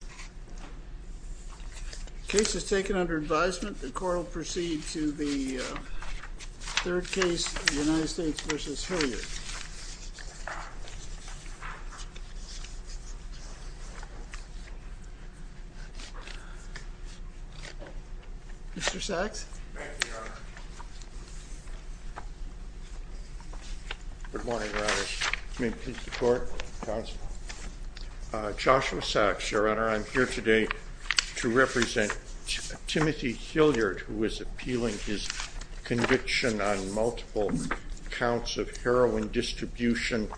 The case is taken under advisement. The court will proceed to the third case, United States v. Hilliard. Mr. Sachs? Thank you, Your Honor. Good morning, Your Honor. May it please the court, counsel. Joshua Sachs, Your Honor. I'm here today to represent Timothy Hilliard, who is appealing his conviction on multiple counts of heroin distribution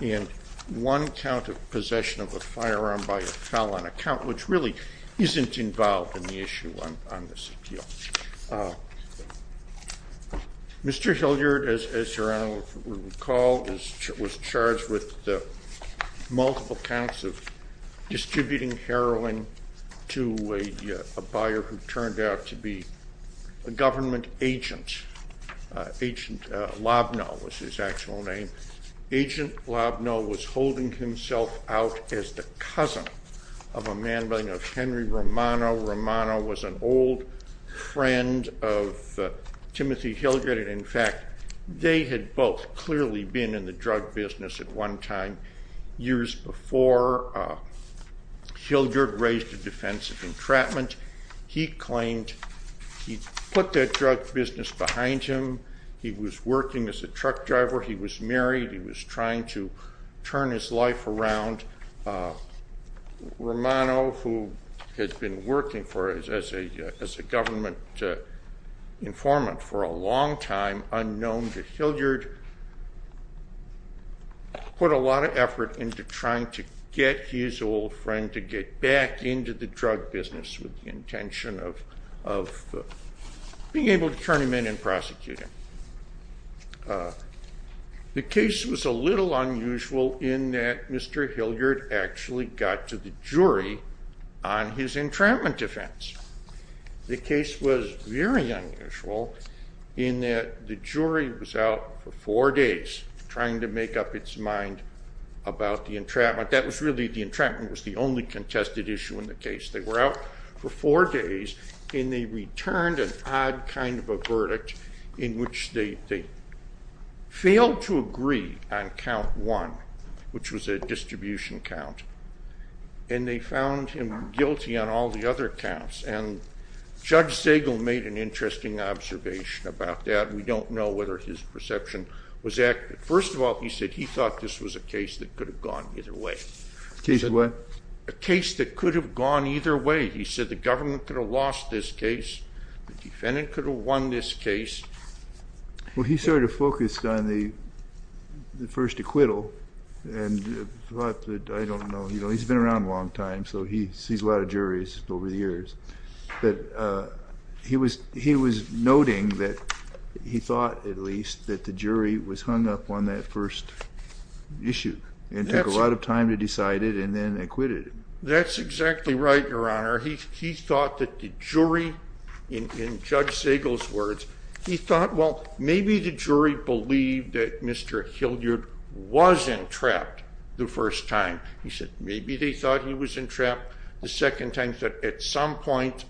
and one count of possession of a firearm by a felon, a count which really isn't involved in the issue on this appeal. Mr. Hilliard, as Your Honor would recall, was charged with multiple counts of distributing heroin to a buyer who turned out to be a government agent. Agent Lobno was his actual name. Agent Lobno was holding himself out as the cousin of a man by the name of Henry Romano. Romano was an old friend of Timothy Hilliard, and in fact, they had both clearly been in the drug business at one time. Years before, Hilliard raised a defense of entrapment. He claimed he put that drug business behind him. He was working as a truck driver. He was married. He was trying to turn his life around. Romano, who had been working as a government informant for a long time, unknown to Hilliard, put a lot of effort into trying to get his old friend to get back into the drug business with the intention of being able to turn him in and prosecute him. The case was a little unusual in that Mr. Hilliard actually got to the jury on his entrapment defense. The case was very unusual in that the jury was out for four days trying to make up its mind about the entrapment. In fact, the entrapment was the only contested issue in the case. They were out for four days, and they returned an odd kind of a verdict in which they failed to agree on count one, which was a distribution count, and they found him guilty on all the other counts. Judge Segal made an interesting observation about that. We don't know whether his perception was accurate. First of all, he said he thought this was a case that could have gone either way. A case that what? A case that could have gone either way. He said the government could have lost this case. The defendant could have won this case. Well, he sort of focused on the first acquittal. I don't know. He's been around a long time, so he sees a lot of juries over the years. He was noting that he thought, at least, that the jury was hung up on that first issue and took a lot of time to decide it and then acquitted it. That's exactly right, Your Honor. He thought that the jury, in Judge Segal's words, he thought, well, maybe the jury believed that Mr. Hilliard was entrapped the first time. He said, maybe they thought he was entrapped the second time. He said, at some point,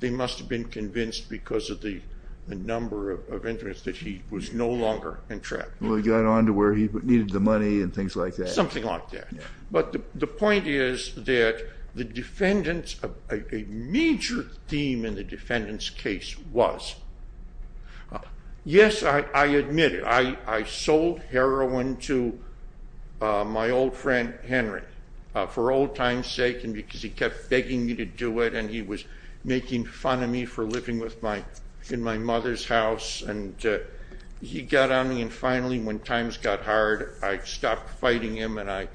they must have been convinced because of the number of entrants that he was no longer entrapped. Well, he got on to where he needed the money and things like that. Something like that. But the point is that a major theme in the defendant's case was, yes, I admit it. I sold heroin to my old friend Henry for old times' sake and because he kept begging me to do it and he was making fun of me for living in my mother's house. He got on me and finally, when times got hard, I stopped fighting him and I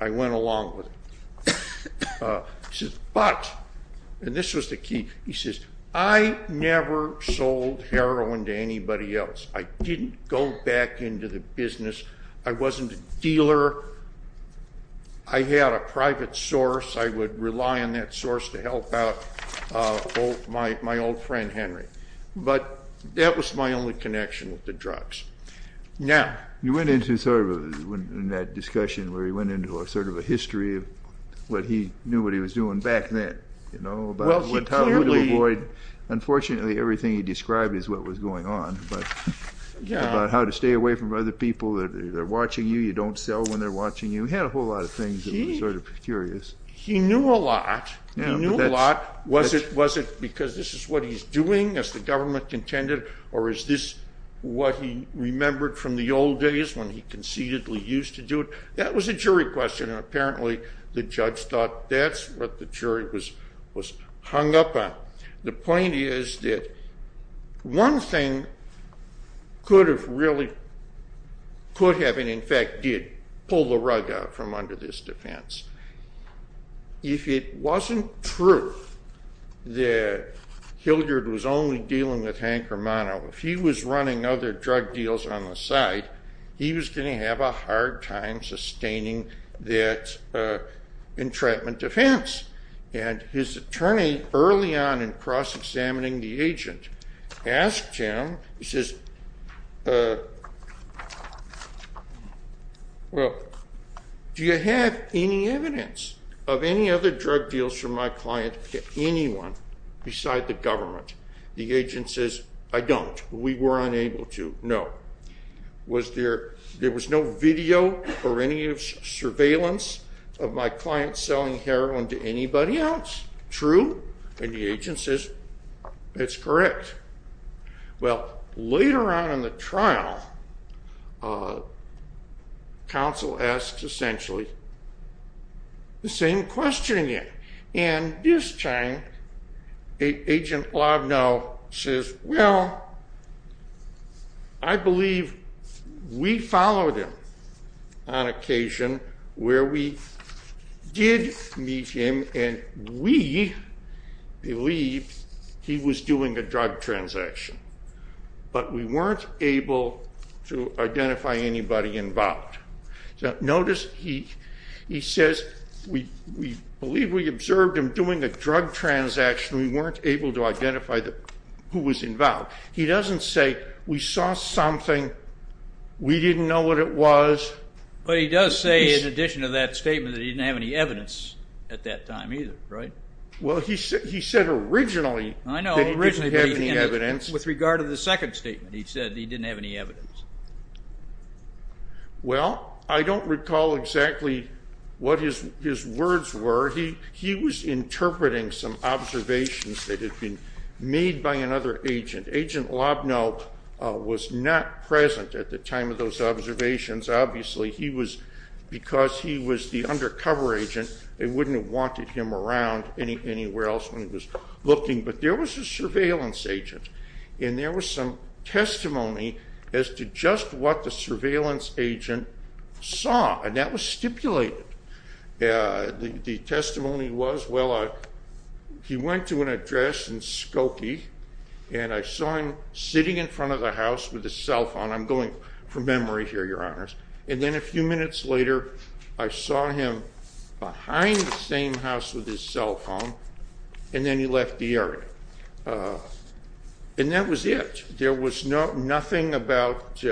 went along with it. But, and this was the key, he says, I never sold heroin to anybody else. I didn't go back into the business. I wasn't a dealer. I had a private source. I would rely on that source to help out my old friend Henry. But that was my only connection with the drugs. You went into sort of in that discussion where he went into a sort of a history of what he knew what he was doing back then, you know, about how to avoid, unfortunately, everything he described as what was going on, but about how to stay away from other people that are watching you. You don't sell when they're watching you. He had a whole lot of things that were sort of curious. He knew a lot. He knew a lot. Was it because this is what he's doing, as the government contended, or is this what he remembered from the old days when he conceitedly used to do it? That was a jury question and apparently the judge thought that's what the jury was hung up on. The point is that one thing could have really, could have, and in fact did, pull the rug out from under this defense. If it wasn't true that Hildred was only dealing with Hank Romano, if he was running other drug deals on the side, he was going to have a hard time sustaining that entrapment defense. And his attorney, early on in cross-examining the agent, asked him, he says, well, do you have any evidence of any other drug deals from my client to anyone beside the government? The agent says, I don't. We were unable to know. Was there, there was no video or any surveillance of my client selling heroin to anybody else? True. And the agent says, it's correct. Well, later on in the trial, counsel asked essentially the same question again. And this time, Agent Lobno says, well, I believe we followed him on occasion where we did meet him and we believe he was doing a drug trial. But we weren't able to identify anybody involved. Notice he says, we believe we observed him doing a drug transaction. We weren't able to identify who was involved. He doesn't say we saw something, we didn't know what it was. But he does say, in addition to that statement, that he didn't have any evidence at that time either, right? Well, he said originally that he didn't have any evidence. With regard to the second statement, he said he didn't have any evidence. Well, I don't recall exactly what his words were. He was interpreting some observations that had been made by another agent. Agent Lobno was not present at the time of those observations. Obviously, because he was the undercover agent, they wouldn't have wanted him around anywhere else when he was looking. But there was a surveillance agent, and there was some testimony as to just what the surveillance agent saw. And that was stipulated. The testimony was, well, he went to an address in Skokie, and I saw him sitting in front of the house with his cell phone. I'm going from memory here, your honors. And then a few minutes later, I saw him behind the same house with his cell phone, and then he left the area. And that was it. There was nothing about,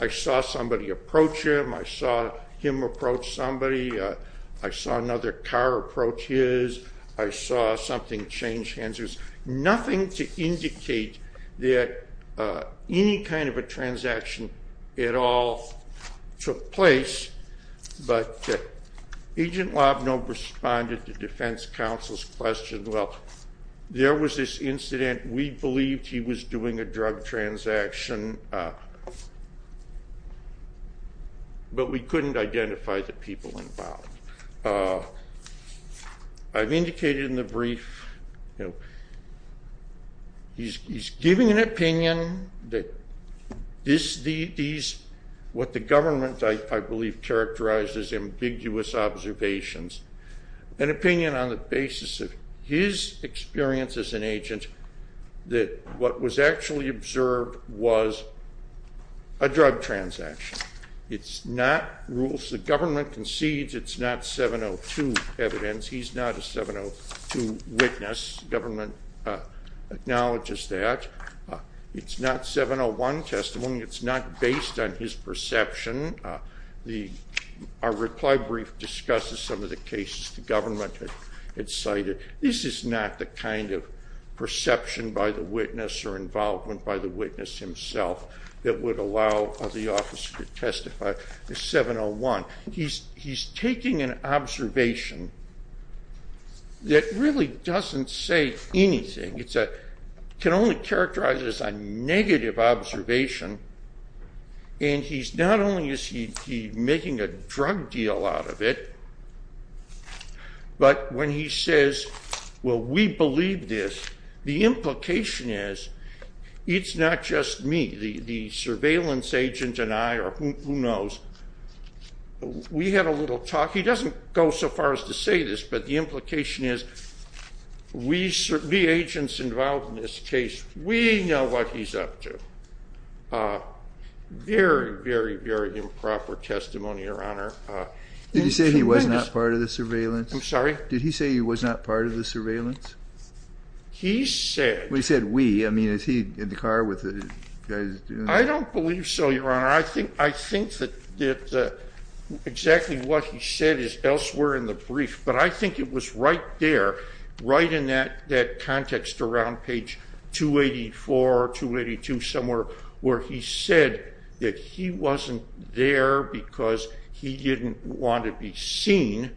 I saw somebody approach him, I saw him approach somebody, I saw another car approach his, I saw something change hands. There was nothing to indicate that any kind of a transaction at all took place. But Agent Lobno responded to Defense Counsel's question, well, there was this incident, we believed he was doing a drug transaction, but we couldn't identify the people involved. I've indicated in the brief, he's giving an opinion, what the government, I believe, characterized as ambiguous observations, an opinion on the basis of his experience as an agent that what was actually observed was a drug transaction. It's not rules the government concedes, it's not 702 evidence, he's not a 702 witness, government acknowledges that. It's not 701 testimony, it's not based on his perception. Our reply brief discusses some of the cases the government had cited. This is not the kind of perception by the witness or involvement by the witness himself that would allow the office to testify. He's taking an observation that really doesn't say anything. It can only characterize as a negative observation, and not only is he making a drug deal out of it, but when he says, well, we believe this, the implication is, it's not just me. The surveillance agent and I, or who knows, we had a little talk. He doesn't go so far as to say this, but the implication is, we agents involved in this case, we know what he's up to. Very, very, very improper testimony, Your Honor. Did he say he was not part of the surveillance? I'm sorry? Did he say he was not part of the surveillance? He said... He said we. I mean, is he in the car with the guys? I don't believe so, Your Honor. I think that exactly what he said is elsewhere in the brief, but I think it was right there, right in that context around page 284, 282, somewhere where he said that he wasn't there because he didn't want to be seen.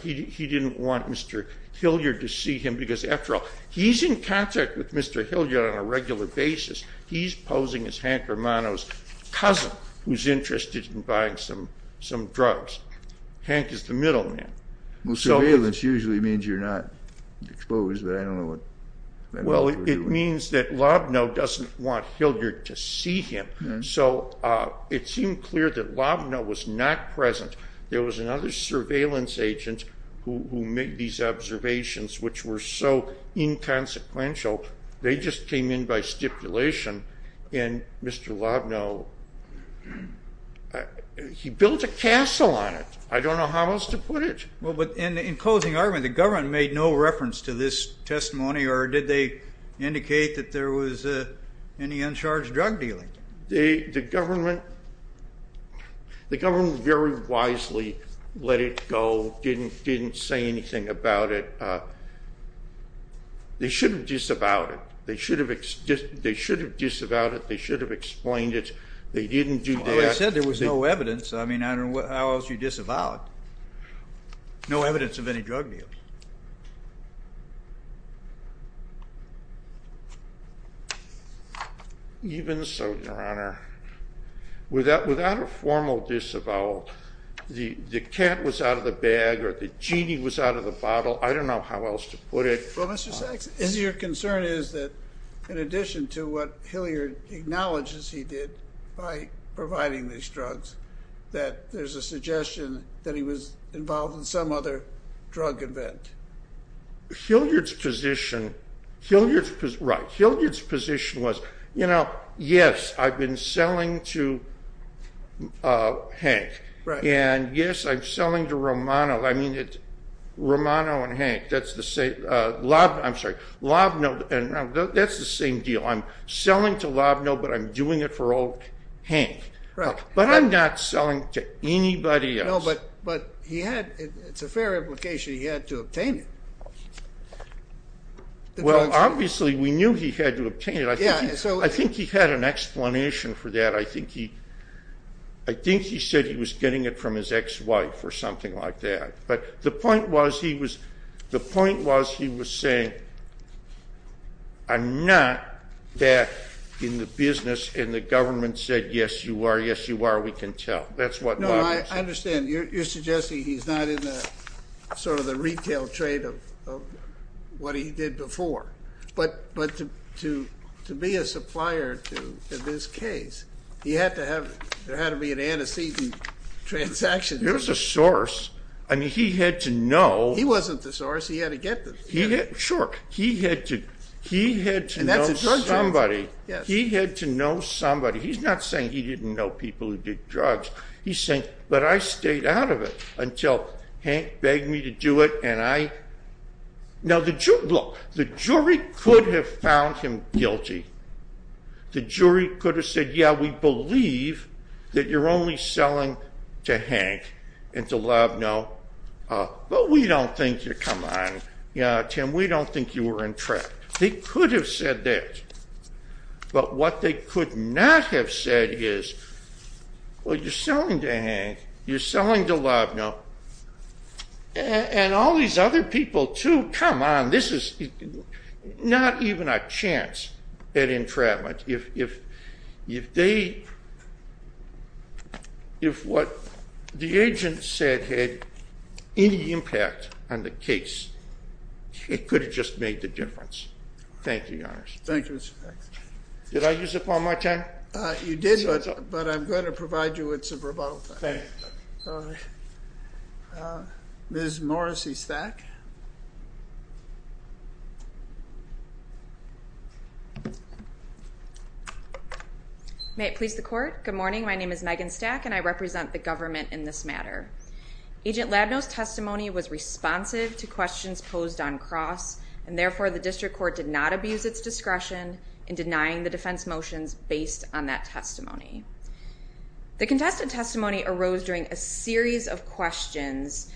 He didn't want Mr. Hilliard to see him because, after all, he's in contact with Mr. Hilliard on a regular basis. He's posing as Hank Romano's cousin who's interested in buying some drugs. Hank is the middleman. Well, surveillance usually means you're not exposed, but I don't know what... Well, it means that Lobno doesn't want Hilliard to see him, so it seemed clear that Lobno was not present. There was another surveillance agent who made these observations, which were so inconsequential, they just came in by stipulation, and Mr. Lobno, he built a castle on it. I don't know how else to put it. Well, but in closing argument, the government made no reference to this testimony, or did they indicate that there was any uncharged drug dealing? The government very wisely let it go, didn't say anything about it. They should have disavowed it. They should have disavowed it. They should have explained it. They didn't do that. Well, they said there was no evidence. I mean, I don't know how else you disavow it. No evidence of any drug deal. Even so, Your Honor, without a formal disavowal, the cat was out of the bag or the genie was out of the bottle. I don't know how else to put it. Well, Mr. Sachs, your concern is that in addition to what Hilliard acknowledges he did by providing these drugs, that there's a suggestion that he was involved in some other drug event. Hilliard's position was, you know, yes, I've been selling to Hank, and yes, I'm selling to Lobno, but I'm doing it for old Hank. But I'm not selling to anybody else. It's a fair implication he had to obtain it. Well, obviously we knew he had to obtain it. I think he had an explanation for that. I think he said he was getting it from his ex-wife or something like that. But the point was he was saying, I'm not that in the business and the government said, yes, you are, yes, you are, we can tell. That's what Lobno said. No, I understand. You're suggesting he's not in the sort of the retail trade of what he did before. But to be a supplier to this case, there had to be an antecedent transaction. There was a source. I mean, he had to know. He wasn't the source. He had to get the thing. Sure. He had to know somebody. He had to know somebody. He's not saying he didn't know people who did drugs. He's saying, but I stayed out of it until Hank begged me to do it. Now, look, the jury could have found him guilty. The jury could have said, yeah, we believe that you're only selling to Hank and to Lobno, but we don't think you're, come on, Tim, we don't think you were in trouble. They could have said that. But what they could not have said is, well, you're selling to Hank, you're selling to Lobno, and all these other people too, come on, this is not even a chance at entrapment. If what the agent said had any impact on the case, it could have just made the difference. Thank you, Your Honor. Thank you, Mr. Faxon. Did I use up all my time? You did, but I'm going to provide you with some rebuttal time. Thank you. Ms. Morrissey-Stack? May it please the Court? Good morning. My name is Megan Stack, and I represent the government in this matter. Agent Lobno's testimony was responsive to questions posed on cross, and therefore the district court did not abuse its discretion in denying the defense motions based on that testimony. The contested testimony arose during a series of questions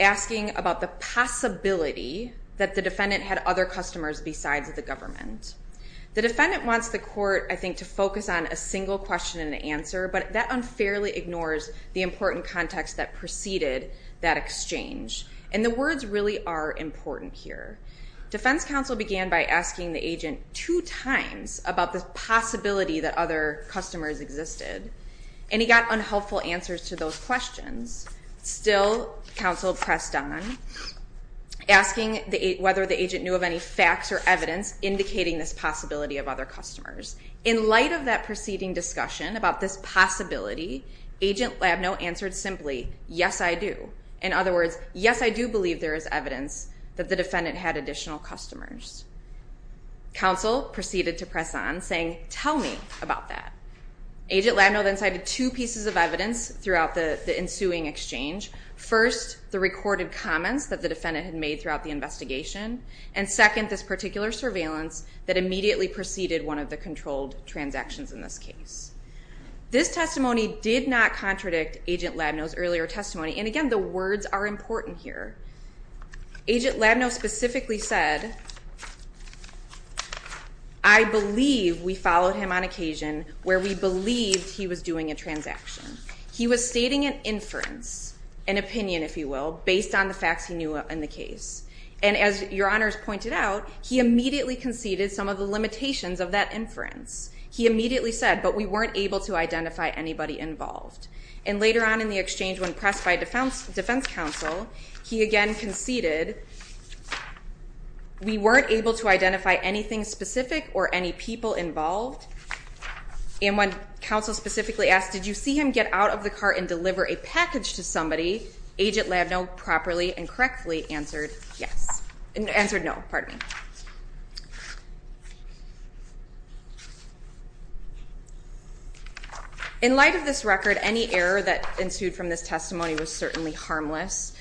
asking about the possibility that the defendant had other customers besides the government. The defendant wants the court, I think, to focus on a single question and answer, but that unfairly ignores the important context that preceded that exchange, and the words really are important here. Defense counsel began by asking the agent two times about the possibility that other customers existed, and he got unhelpful answers to those questions. Still, counsel pressed on, asking whether the agent knew of any facts or evidence indicating this possibility of other customers. In light of that preceding discussion about this possibility, agent Lobno answered simply, yes, I do. In other words, yes, I do believe there is evidence that the defendant had additional customers. Counsel proceeded to press on, saying, tell me about that. Agent Lobno then cited two pieces of evidence throughout the ensuing exchange. First, the recorded comments that the defendant had made throughout the investigation, and second, this particular surveillance that immediately preceded one of the controlled transactions in this case. This testimony did not contradict agent Lobno's earlier testimony, and again, the words are important here. Agent Lobno specifically said, I believe we followed him on occasion where we believed he was doing a transaction. He was stating an inference, an opinion, if you will, based on the facts he knew in the case. And as your honors pointed out, he immediately conceded some of the limitations of that inference. He immediately said, but we weren't able to identify anybody involved. And later on in the exchange, when pressed by defense counsel, he again conceded, we weren't able to identify anything specific or any people involved. And when counsel specifically asked, did you see him get out of the car and deliver a package to somebody, agent Lobno properly and correctly answered, yes. In light of this record, any error that ensued from this testimony was certainly harmless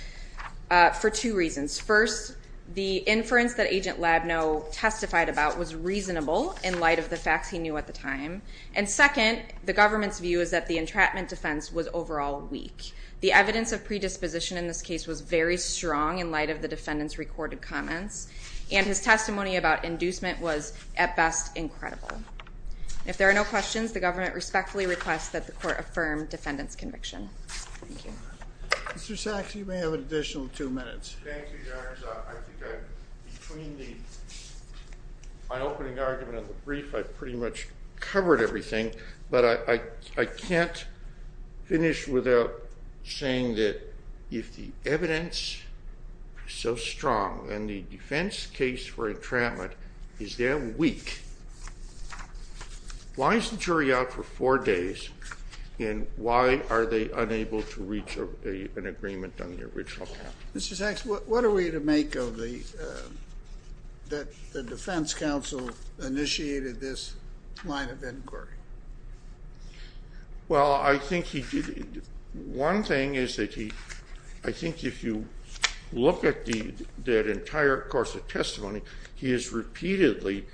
for two reasons. First, the inference that agent Lobno testified about was reasonable in light of the facts he knew at the time. And second, the government's view is that the entrapment defense was overall weak. The evidence of predisposition in this case was very strong in light of the defendant's recorded comments. And his testimony about inducement was, at best, incredible. If there are no questions, the government respectfully requests that the court affirm defendant's conviction. Thank you. Mr. Sachs, you may have an additional two minutes. Thank you, your honors. My opening argument of the brief, I pretty much covered everything. But I can't finish without saying that if the evidence is so strong and the defense case for entrapment is that weak, why is the jury out for four days? And why are they unable to reach an agreement on the original path? Mr. Sachs, what are we to make of the defense counsel initiated this line of inquiry? Well, I think he did. One thing is that he, I think if you look at the entire course of testimony, he is repeatedly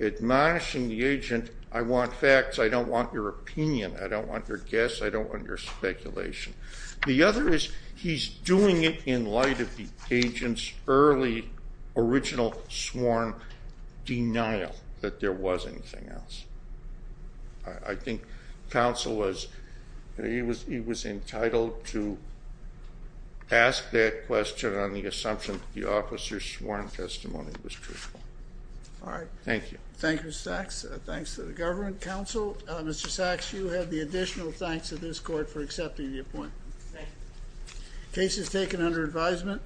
admonishing the agent, I want facts, I don't want your opinion, I don't want your guess, I don't want your speculation. The other is he's doing it in light of the agent's early original sworn denial that there was anything else. I think counsel was, he was entitled to ask that question on the assumption that the officer's sworn testimony was truthful. All right. Thank you. Thank you, Mr. Sachs. Thanks to the government counsel. Mr. Sachs, you have the additional thanks of this court for accepting the appointment. Thank you. Case is taken under advisement.